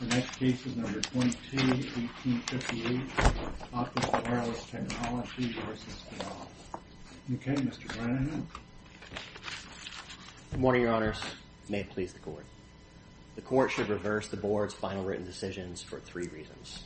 The next case is number 22-18-58, Optis Wireless Technology v. Vidal. Okay, Mr. Brennan. Good morning, Your Honors. May it please the Court. The Court should reverse the Board's final written decisions for three reasons.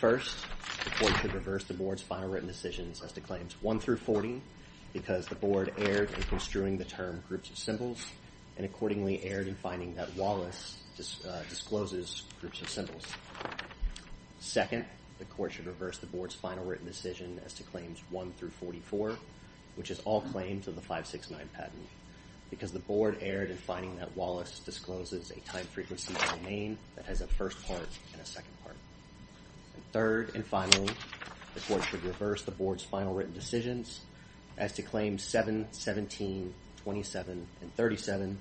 First, the Court should reverse the Board's final written decisions as to Claims 1-40 because the Board erred in construing the term Groups of Symbols and accordingly erred in finding that Wallace discloses Groups of Symbols. Second, the Court should reverse the Board's final written decision as to Claims 1-44 which is all claims of the 569 patent because the Board erred in finding that Wallace discloses a time frequency domain that has a first part and a second part. Third and finally, the Court should reverse the Board's final written decisions as to Claims 7-17-27 and 37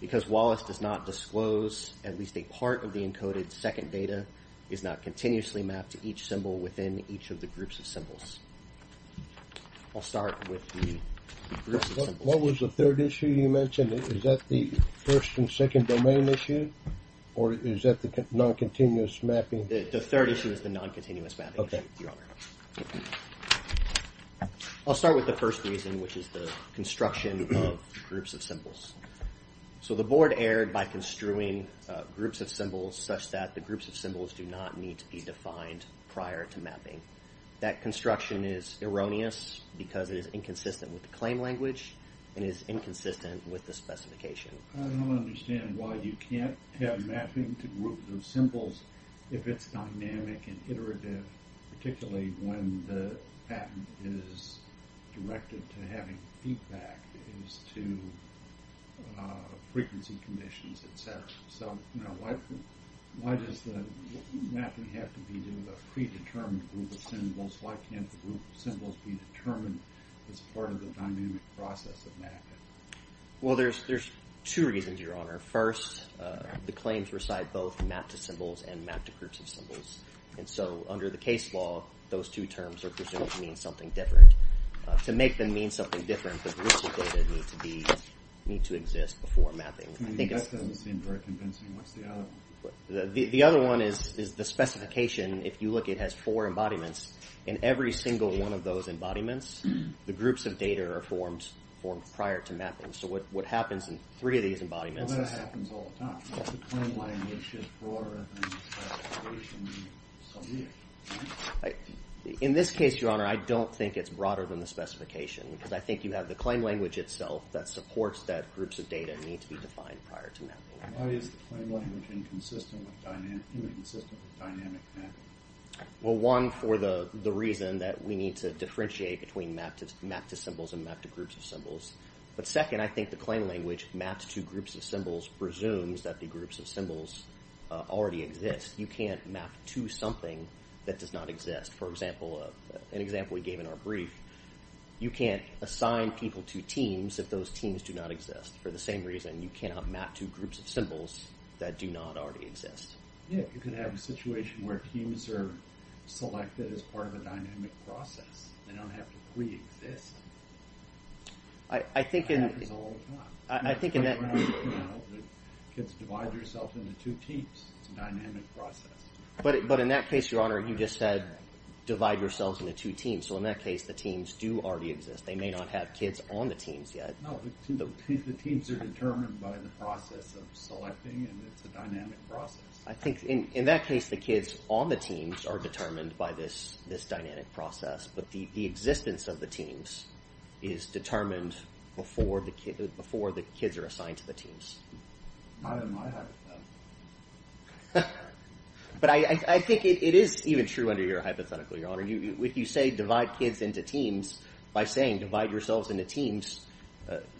because Wallace does not disclose at least a part of the encoded second data is not continuously mapped to each symbol within each of the Groups of Symbols. I'll start with the Groups of Symbols. What was the third issue you mentioned? Is that the first and second domain issue or is that the non-continuous mapping? The third issue is the non-continuous mapping issue, Your Honor. I'll start with the first reason which is the construction of Groups of Symbols. So the Board erred by construing Groups of Symbols such that the Groups of Symbols do not need to be defined prior to mapping. That construction is erroneous because it is inconsistent with the claim language and is inconsistent with the specification. I don't understand why you can't have mapping to Groups of Symbols if it's dynamic and iterative, particularly when the patent is directed to having feedback as to frequency conditions, et cetera. So why does the mapping have to be to a predetermined Group of Symbols? Why can't the Groups of Symbols be determined as part of the dynamic process of mapping? Well, there's two reasons, Your Honor. First, the claims reside both mapped to symbols and mapped to Groups of Symbols. And so under the case law, those two terms are presumed to mean something different. To make them mean something different, the groups of data need to exist before mapping. That doesn't seem very convincing. What's the other one? The other one is the specification. If you look, it has four embodiments. In every single one of those embodiments, the groups of data are formed prior to mapping. So what happens in three of these embodiments is... In this case, Your Honor, I don't think it's broader than the specification because I think you have the claim language itself that supports that groups of data need to be defined prior to mapping. Well, one, for the reason that we need to differentiate between mapped to symbols and mapped to Groups of Symbols. But second, I think the claim language, mapped to Groups of Symbols, presumes that the Groups of Symbols already exist. You can't map to something that does not exist. For example, an example we gave in our brief, you can't assign people to teams if those teams do not exist. For the same reason, you cannot map to Groups of Symbols that do not already exist. Yeah, you could have a situation where teams are selected as part of a dynamic process. They don't have to pre-exist. Kids divide themselves into two teams. It's a dynamic process. But in that case, Your Honor, you just said divide yourselves into two teams. So in that case, the teams do already exist. They may not have kids on the teams yet. No, the teams are determined by the process of selecting, and it's a dynamic process. I think in that case, the kids on the teams are determined by this dynamic process. But the existence of the teams is determined before the kids are assigned to the teams. Not in my hypothetical. But I think it is even true under your hypothetical, Your Honor. If you say divide kids into teams, by saying divide yourselves into teams,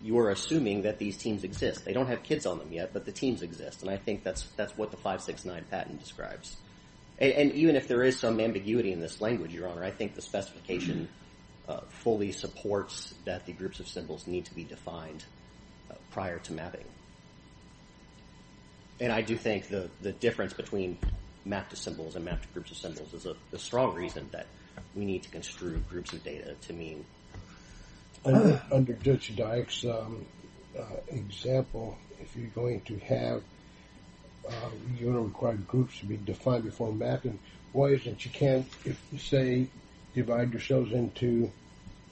you are assuming that these teams exist. They don't have kids on them yet, but the teams exist. And I think that's what the 569 patent describes. And even if there is some ambiguity in this language, Your Honor, I think the specification fully supports that the groups of symbols need to be defined prior to mapping. And I do think the difference between mapped to symbols and mapped to groups of symbols is a strong reason that we need to construe groups of data to mean... Under Judge Dyke's example, if you're going to have your required groups to be defined before mapping, why is it you can't say divide yourselves into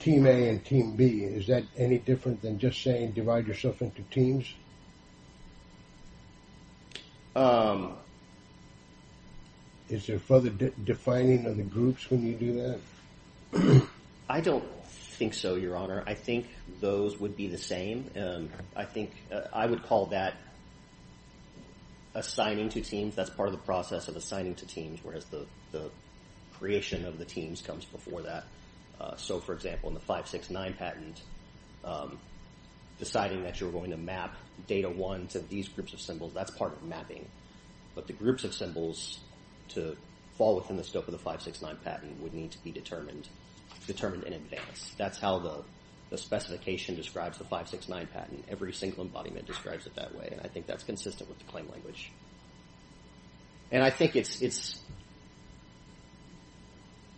Team A and Team B? Is that any different than just saying divide yourself into teams? Is there further defining of the groups when you do that? I don't think so, Your Honor. I think those would be the same. I think I would call that assigning to teams. That's part of the process of assigning to teams, whereas the creation of the teams comes before that. So, for example, in the 569 patent, deciding that you're going to map Data 1 to these groups of symbols, that's part of mapping. But the groups of symbols to fall within the scope of the 569 patent would need to be determined in advance. That's how the specification describes the 569 patent. Every single embodiment describes it that way, and I think that's consistent with the claim language. And I think it's...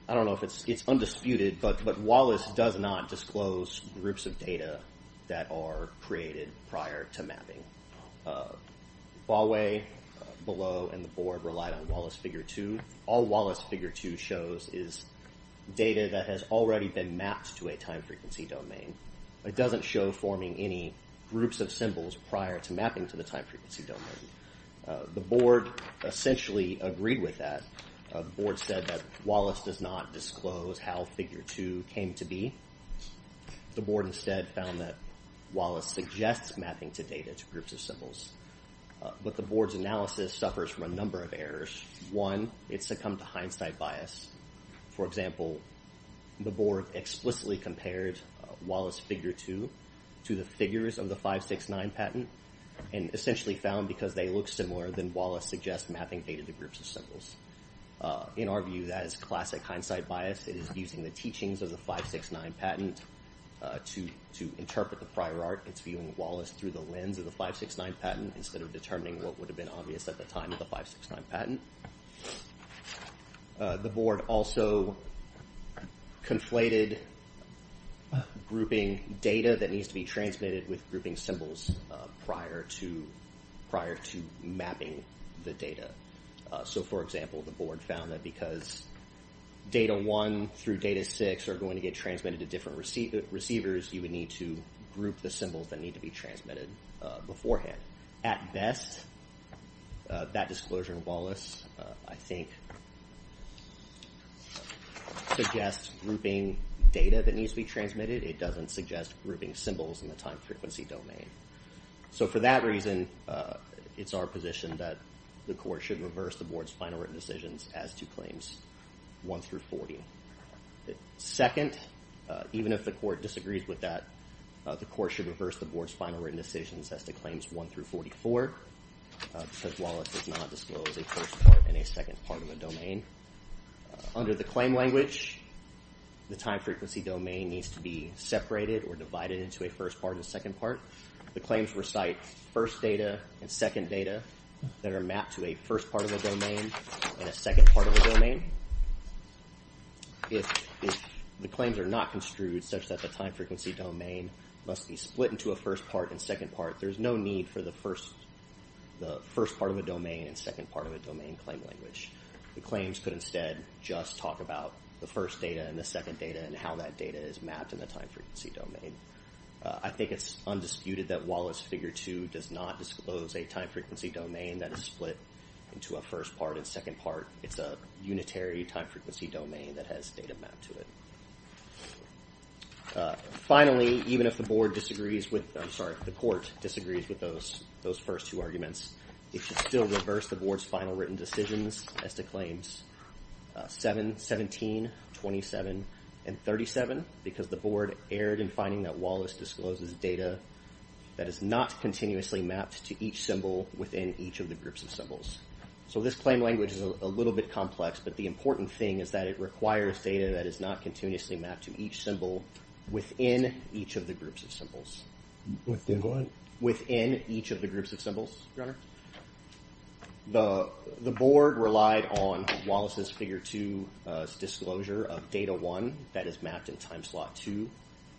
I don't know if it's undisputed, but Wallace does not disclose groups of data that are created prior to mapping. Bawe, Below, and the Board relied on Wallace Figure 2. All Wallace Figure 2 shows is data that has already been mapped to a time-frequency domain. It doesn't show forming any groups of symbols prior to mapping to the time-frequency domain. The Board essentially agreed with that. The Board said that Wallace does not disclose how Figure 2 came to be. The Board instead found that Wallace suggests mapping to data, to groups of symbols. But the Board's analysis suffers from a number of errors. One, it succumbed to hindsight bias. For example, the Board explicitly compared Wallace Figure 2 to the figures of the 569 patent and essentially found because they look similar, then Wallace suggests mapping data to groups of symbols. In our view, that is classic hindsight bias. It is using the teachings of the 569 patent to interpret the prior art. It's viewing Wallace through the lens of the 569 patent instead of determining what would have been obvious at the time of the 569 patent. The Board also conflated grouping data that needs to be transmitted with grouping symbols prior to mapping the data. For example, the Board found that because data 1 through data 6 are going to get transmitted to different receivers, you would need to group the symbols that need to be transmitted beforehand. At best, that disclosure in Wallace, I think, suggests grouping data that needs to be transmitted. It doesn't suggest grouping symbols in the time-frequency domain. So for that reason, it's our position that the Court should reverse the Board's final written decisions as to claims 1 through 40. Second, even if the Court disagrees with that, the Court should reverse the Board's final written decisions as to claims 1 through 44 because Wallace does not disclose a first part and a second part of a domain. Under the claim language, the time-frequency domain needs to be separated or divided into a first part and a second part. The claims recite first data and second data that are mapped to a first part of a domain and a second part of a domain. If the claims are not construed such that the time-frequency domain must be split into a first part and second part, there's no need for the first part of a domain and second part of a domain claim language. The claims could instead just talk about the first data and the second data and how that data is mapped in the time-frequency domain. I think it's undisputed that Wallace Figure 2 does not disclose a time-frequency domain that is split into a first part and second part. It's a unitary time-frequency domain that has data mapped to it. Finally, even if the board disagrees with... I'm sorry, the court disagrees with those first two arguments, it should still reverse the board's final written decisions as to claims 7, 17, 27, and 37 because the board erred in finding that Wallace discloses data that is not continuously mapped to each symbol within each of the groups of symbols. So this claim language is a little bit complex, but the important thing is that it requires data that is not continuously mapped to each symbol within each of the groups of symbols. Within what? Within each of the groups of symbols, Your Honor. The board relied on Wallace's Figure 2 disclosure of data 1 that is mapped in time slot 2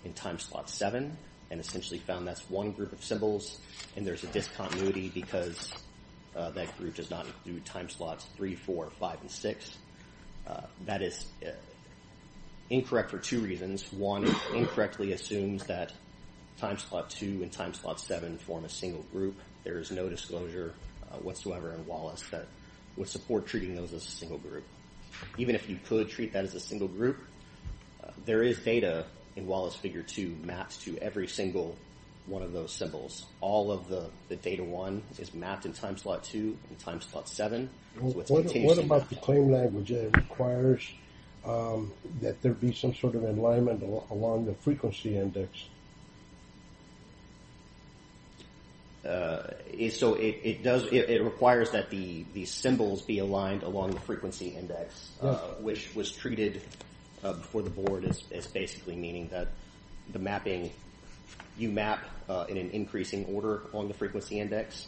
and time slot 7 and essentially found that's one group of symbols and there's a discontinuity because that group does not include time slots 3, 4, 5, and 6. That is incorrect for two reasons. One, it incorrectly assumes that time slot 2 and time slot 7 form a single group. There is no disclosure whatsoever in Wallace that would support treating those as a single group. Even if you could treat that as a single group, there is data in Wallace's Figure 2 mapped to every single one of those symbols. All of the data 1 is mapped in time slot 2 and time slot 7. What about the claim language? It requires that there be some sort of alignment along the frequency index. So it requires that the symbols be aligned along the frequency index, which was treated before the board as basically meaning that the mapping, you map in an increasing order along the frequency index.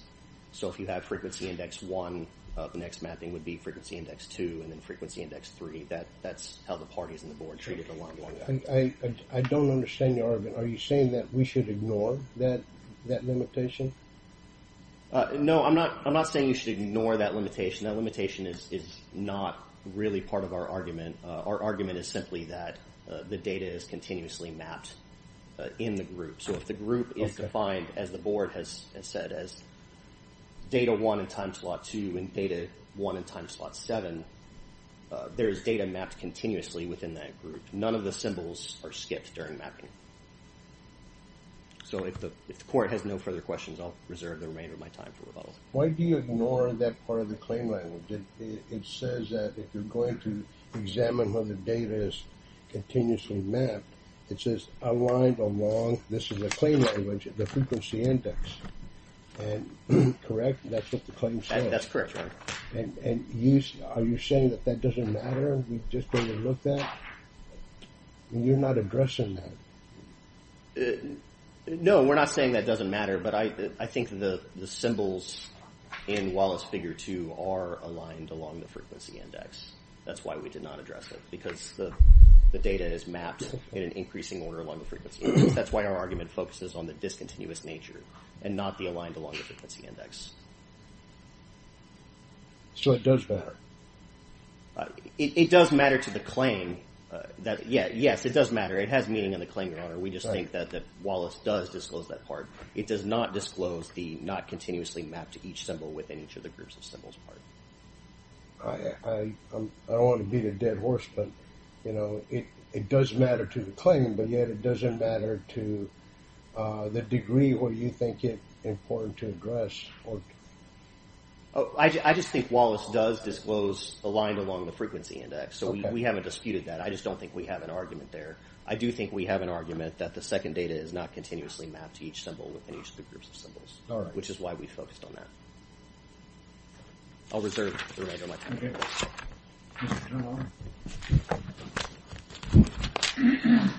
So if you have frequency index 1, the next mapping would be frequency index 2 and then frequency index 3. That's how the parties in the board treat it along that. I don't understand your argument. Are you saying that we should ignore that limitation? No, I'm not saying you should ignore that limitation. That limitation is not really part of our argument. Our argument is simply that the data is continuously mapped in the group. So if the group is defined, as the board has said, as data 1 in time slot 2 and data 1 in time slot 7, there is data mapped continuously within that group. None of the symbols are skipped during mapping. So if the court has no further questions, I'll reserve the remainder of my time for rebuttals. Why do you ignore that part of the claim language? It says that if you're going to examine when the data is continuously mapped, it says aligned along, this is the claim language, the frequency index. And correct? That's what the claim says? That's correct, Your Honor. And are you saying that that doesn't matter? We've just been looked at? You're not addressing that. No, we're not saying that doesn't matter, but I think the symbols in Wallace Figure 2 are aligned along the frequency index. That's why we did not address it, because the data is mapped in an increasing order along the frequency index. That's why our argument focuses on the discontinuous nature and not the aligned along the frequency index. So it does matter? It does matter to the claim. Yes, it does matter. It has meaning in the claim, Your Honor. We just think that Wallace does disclose that part. It does not disclose the not continuously mapped to each symbol within each of the groups of symbols part. I don't want to beat a dead horse, but it does matter to the claim, but yet it doesn't matter to the degree where you think it's important to address. I just think Wallace does disclose aligned along the frequency index, so we haven't disputed that. I just don't think we have an argument there. I do think we have an argument that the second data is not continuously mapped to each symbol within each of the groups of symbols, which is why we focused on that. I'll reserve the rest of my time. Okay. Mr. Turner.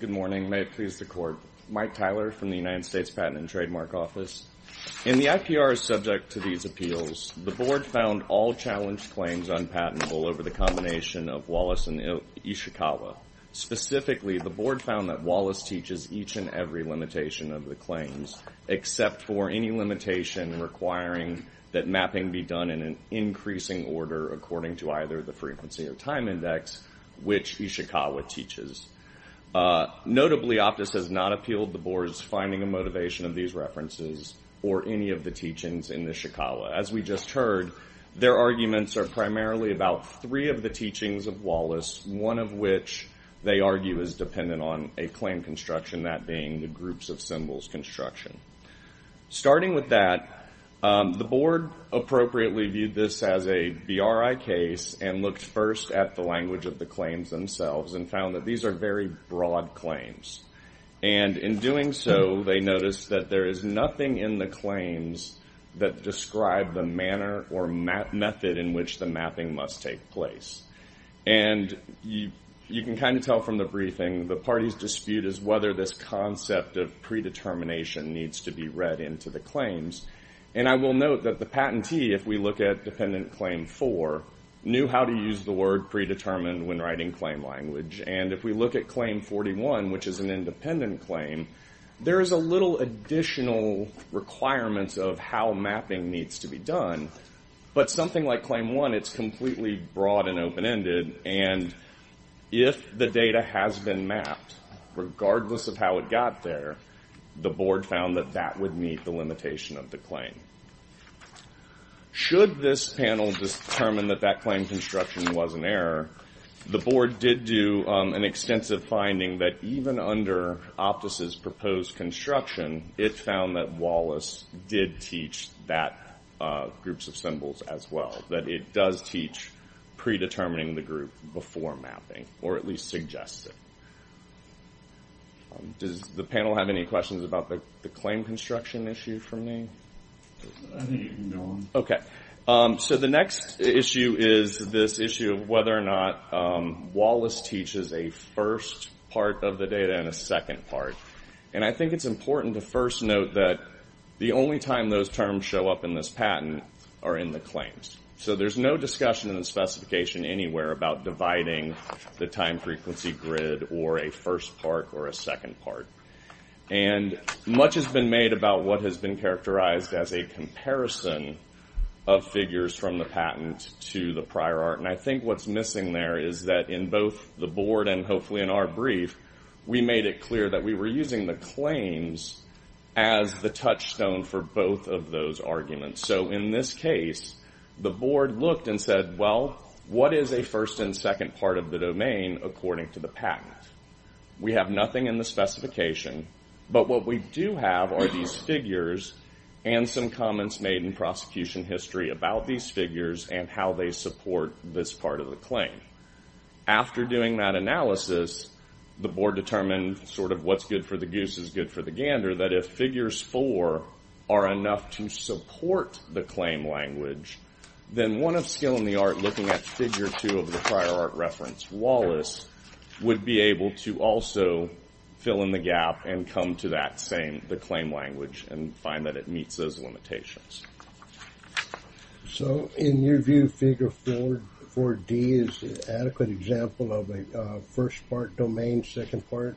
Good morning. May it please the Court. Mike Tyler from the United States Patent and Trademark Office. In the IPR subject to these appeals, the Board found all challenged claims unpatentable over the combination of Wallace and Ishikawa. Specifically, the Board found that Wallace teaches each and every limitation of the claims, except for any limitation requiring that mapping be done in an increasing order according to either the frequency or time index, which Ishikawa teaches. Notably, Optus has not appealed the Board's finding and motivation of these references or any of the teachings in Ishikawa. As we just heard, their arguments are primarily about three of the teachings of Wallace, one of which, they argue, is dependent on a claim construction, that being the groups-of-symbols construction. Starting with that, the Board appropriately viewed this as a BRI case and looked first at the language of the claims themselves and found that these are very broad claims. And in doing so, they noticed that there is nothing in the claims that describe the manner or method in which the mapping must take place. And you can kind of tell from the briefing, the party's dispute is whether this concept of predetermination needs to be read into the claims. And I will note that the patentee, if we look at Dependent Claim 4, knew how to use the word predetermined when writing claim language. And if we look at Claim 41, which is an independent claim, there is a little additional requirement of how mapping needs to be done. But something like Claim 1, it's completely broad and open-ended, and if the data has been mapped, regardless of how it got there, the Board found that that would meet the limitation of the claim. Should this panel determine that that claim construction was an error, the Board did do an extensive finding that even under Optus's proposed construction, it found that Wallace did teach that groups of symbols as well, that it does teach predetermining the group before mapping, or at least suggests it. Does the panel have any questions about the claim construction issue for me? Okay. So the next issue is this issue of whether or not Wallace teaches a first part of the data and a second part. And I think it's important to first note that the only time those terms show up in this patent are in the claims. So there's no discussion in the specification anywhere about dividing the time-frequency grid or a first part or a second part. And much has been made about what has been characterized as a comparison of figures from the patent to the prior art, and I think what's missing there is that in both the Board and hopefully in our brief, we made it clear that we were using the claims as the touchstone for both of those arguments. So in this case, the Board looked and said, well, what is a first and second part of the domain according to the patent? We have nothing in the specification, but what we do have are these figures and some comments made in prosecution history about these figures and how they support this part of the claim. After doing that analysis, the Board determined sort of what's good for the goose is good for the gander, that if figures 4 are enough to support the claim language, then one of skill in the art looking at figure 2 of the prior art reference, Wallace, would be able to also fill in the gap and come to that same, the claim language, and find that it meets those limitations. So in your view, figure 4D is an adequate example of a first part domain, second part?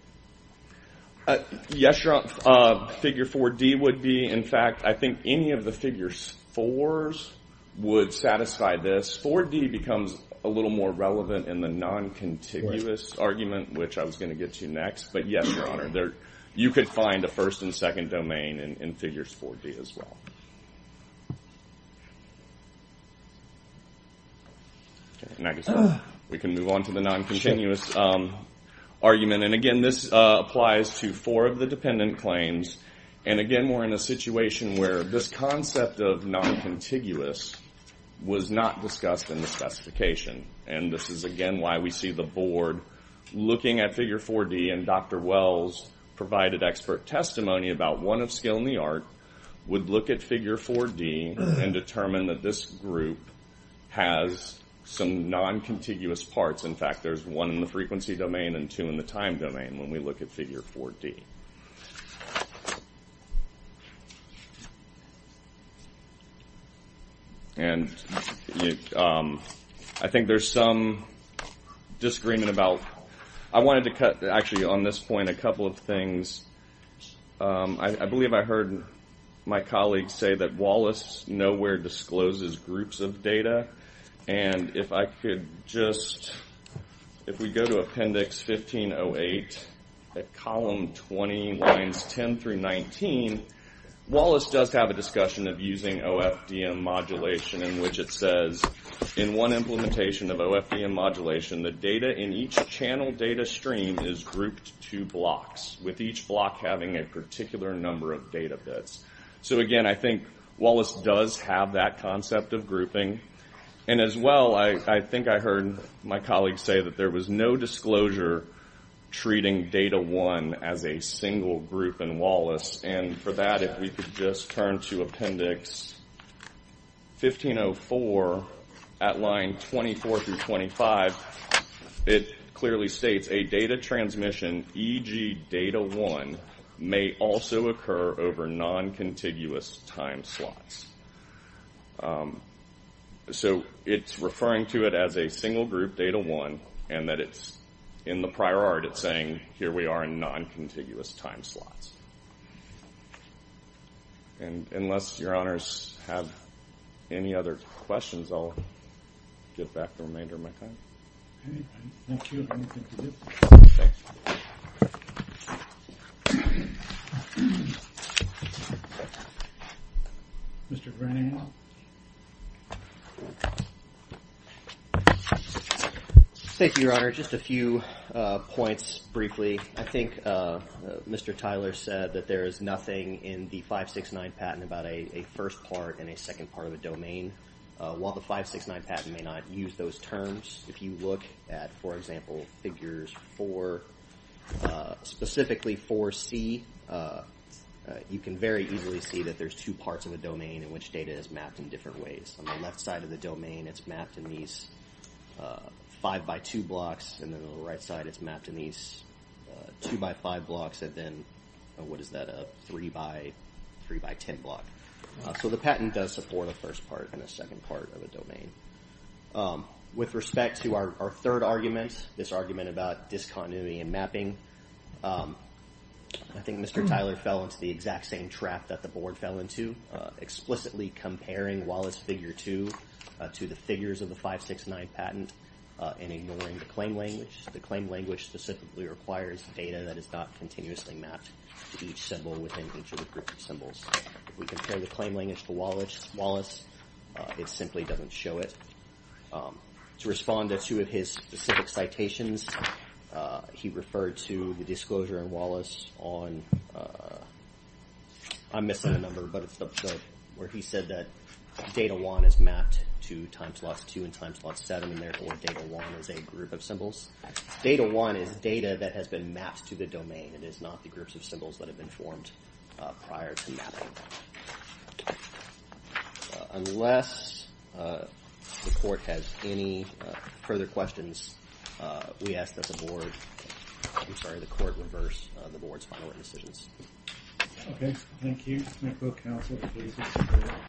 Yes, Your Honor. Figure 4D would be. In fact, I think any of the figures 4s would satisfy this. 4D becomes a little more relevant in the non-contiguous argument, which I was going to get to next. But yes, Your Honor, you could find a first and second domain in figures 4D as well. Okay, and I guess we can move on to the non-contiguous argument. And again, this applies to four of the dependent claims. And again, we're in a situation where this concept of non-contiguous was not discussed in the specification. And this is, again, why we see the Board looking at figure 4D, and Dr. Wells provided expert testimony about one of skill in the art would look at figure 4D and determine that this group has some non-contiguous parts. In fact, there's one in the frequency domain and two in the time domain when we look at figure 4D. And I think there's some disagreement about... I wanted to cut, actually, on this point, a couple of things. I believe I heard my colleague say that Wallace nowhere discloses groups of data. And if I could just... If we go to Appendix 1508, at column 20, lines 10 through 19, Wallace does have a discussion of using OFDM modulation, in which it says, in one implementation of OFDM modulation, the data in each channel data stream is grouped to blocks. With each block having a particular number of data bits. So again, I think Wallace does have that concept of grouping. And as well, I think I heard my colleague say that there was no disclosure treating data 1 as a single group in Wallace. And for that, if we could just turn to Appendix 1504, at line 24 through 25, it clearly states, a data transmission, e.g. data 1, may also occur over non-contiguous time slots. So it's referring to it as a single group, data 1, and that it's in the prior art, it's saying, here we are in non-contiguous time slots. And unless your honors have any other questions, I'll give back the remainder of my time. Okay, I'm not sure I have anything to do with this. Mr. Brennan. Thank you, Your Honor. Just a few points, briefly. I think Mr. Tyler said that there is nothing in the 569 patent about a first part and a second part of a domain. While the 569 patent may not use those terms, if you look at, for example, Figures 4, specifically 4C, you can very easily see that there's two parts of a domain in which data is mapped in different ways. On the left side of the domain, it's mapped in these 5x2 blocks, and then on the right side, it's mapped in these 2x5 blocks, and then, what is that, a 3x10 block. and a second part of a domain. With respect to our third argument, this argument about discontinuity in mapping, I think Mr. Tyler fell into the exact same trap that the Board fell into, explicitly comparing Wallace Figure 2 to the figures of the 569 patent and ignoring the claim language. The claim language specifically requires data that is not continuously mapped to each symbol within each of the groups of symbols. If we compare the claim language to Wallace, it simply doesn't show it. To respond to two of his specific citations, he referred to the disclosure in Wallace on, I'm missing a number, but it's the episode where he said that Data 1 is mapped to Timeslot 2 and Timeslot 7, and therefore Data 1 is a group of symbols. Data 1 is data that has been mapped to the domain. It is not the groups of symbols that have been formed prior to mapping. Unless the Court has any further questions, we ask that the Board, I'm sorry, the Court reverse the Board's final written decisions. Okay, thank you.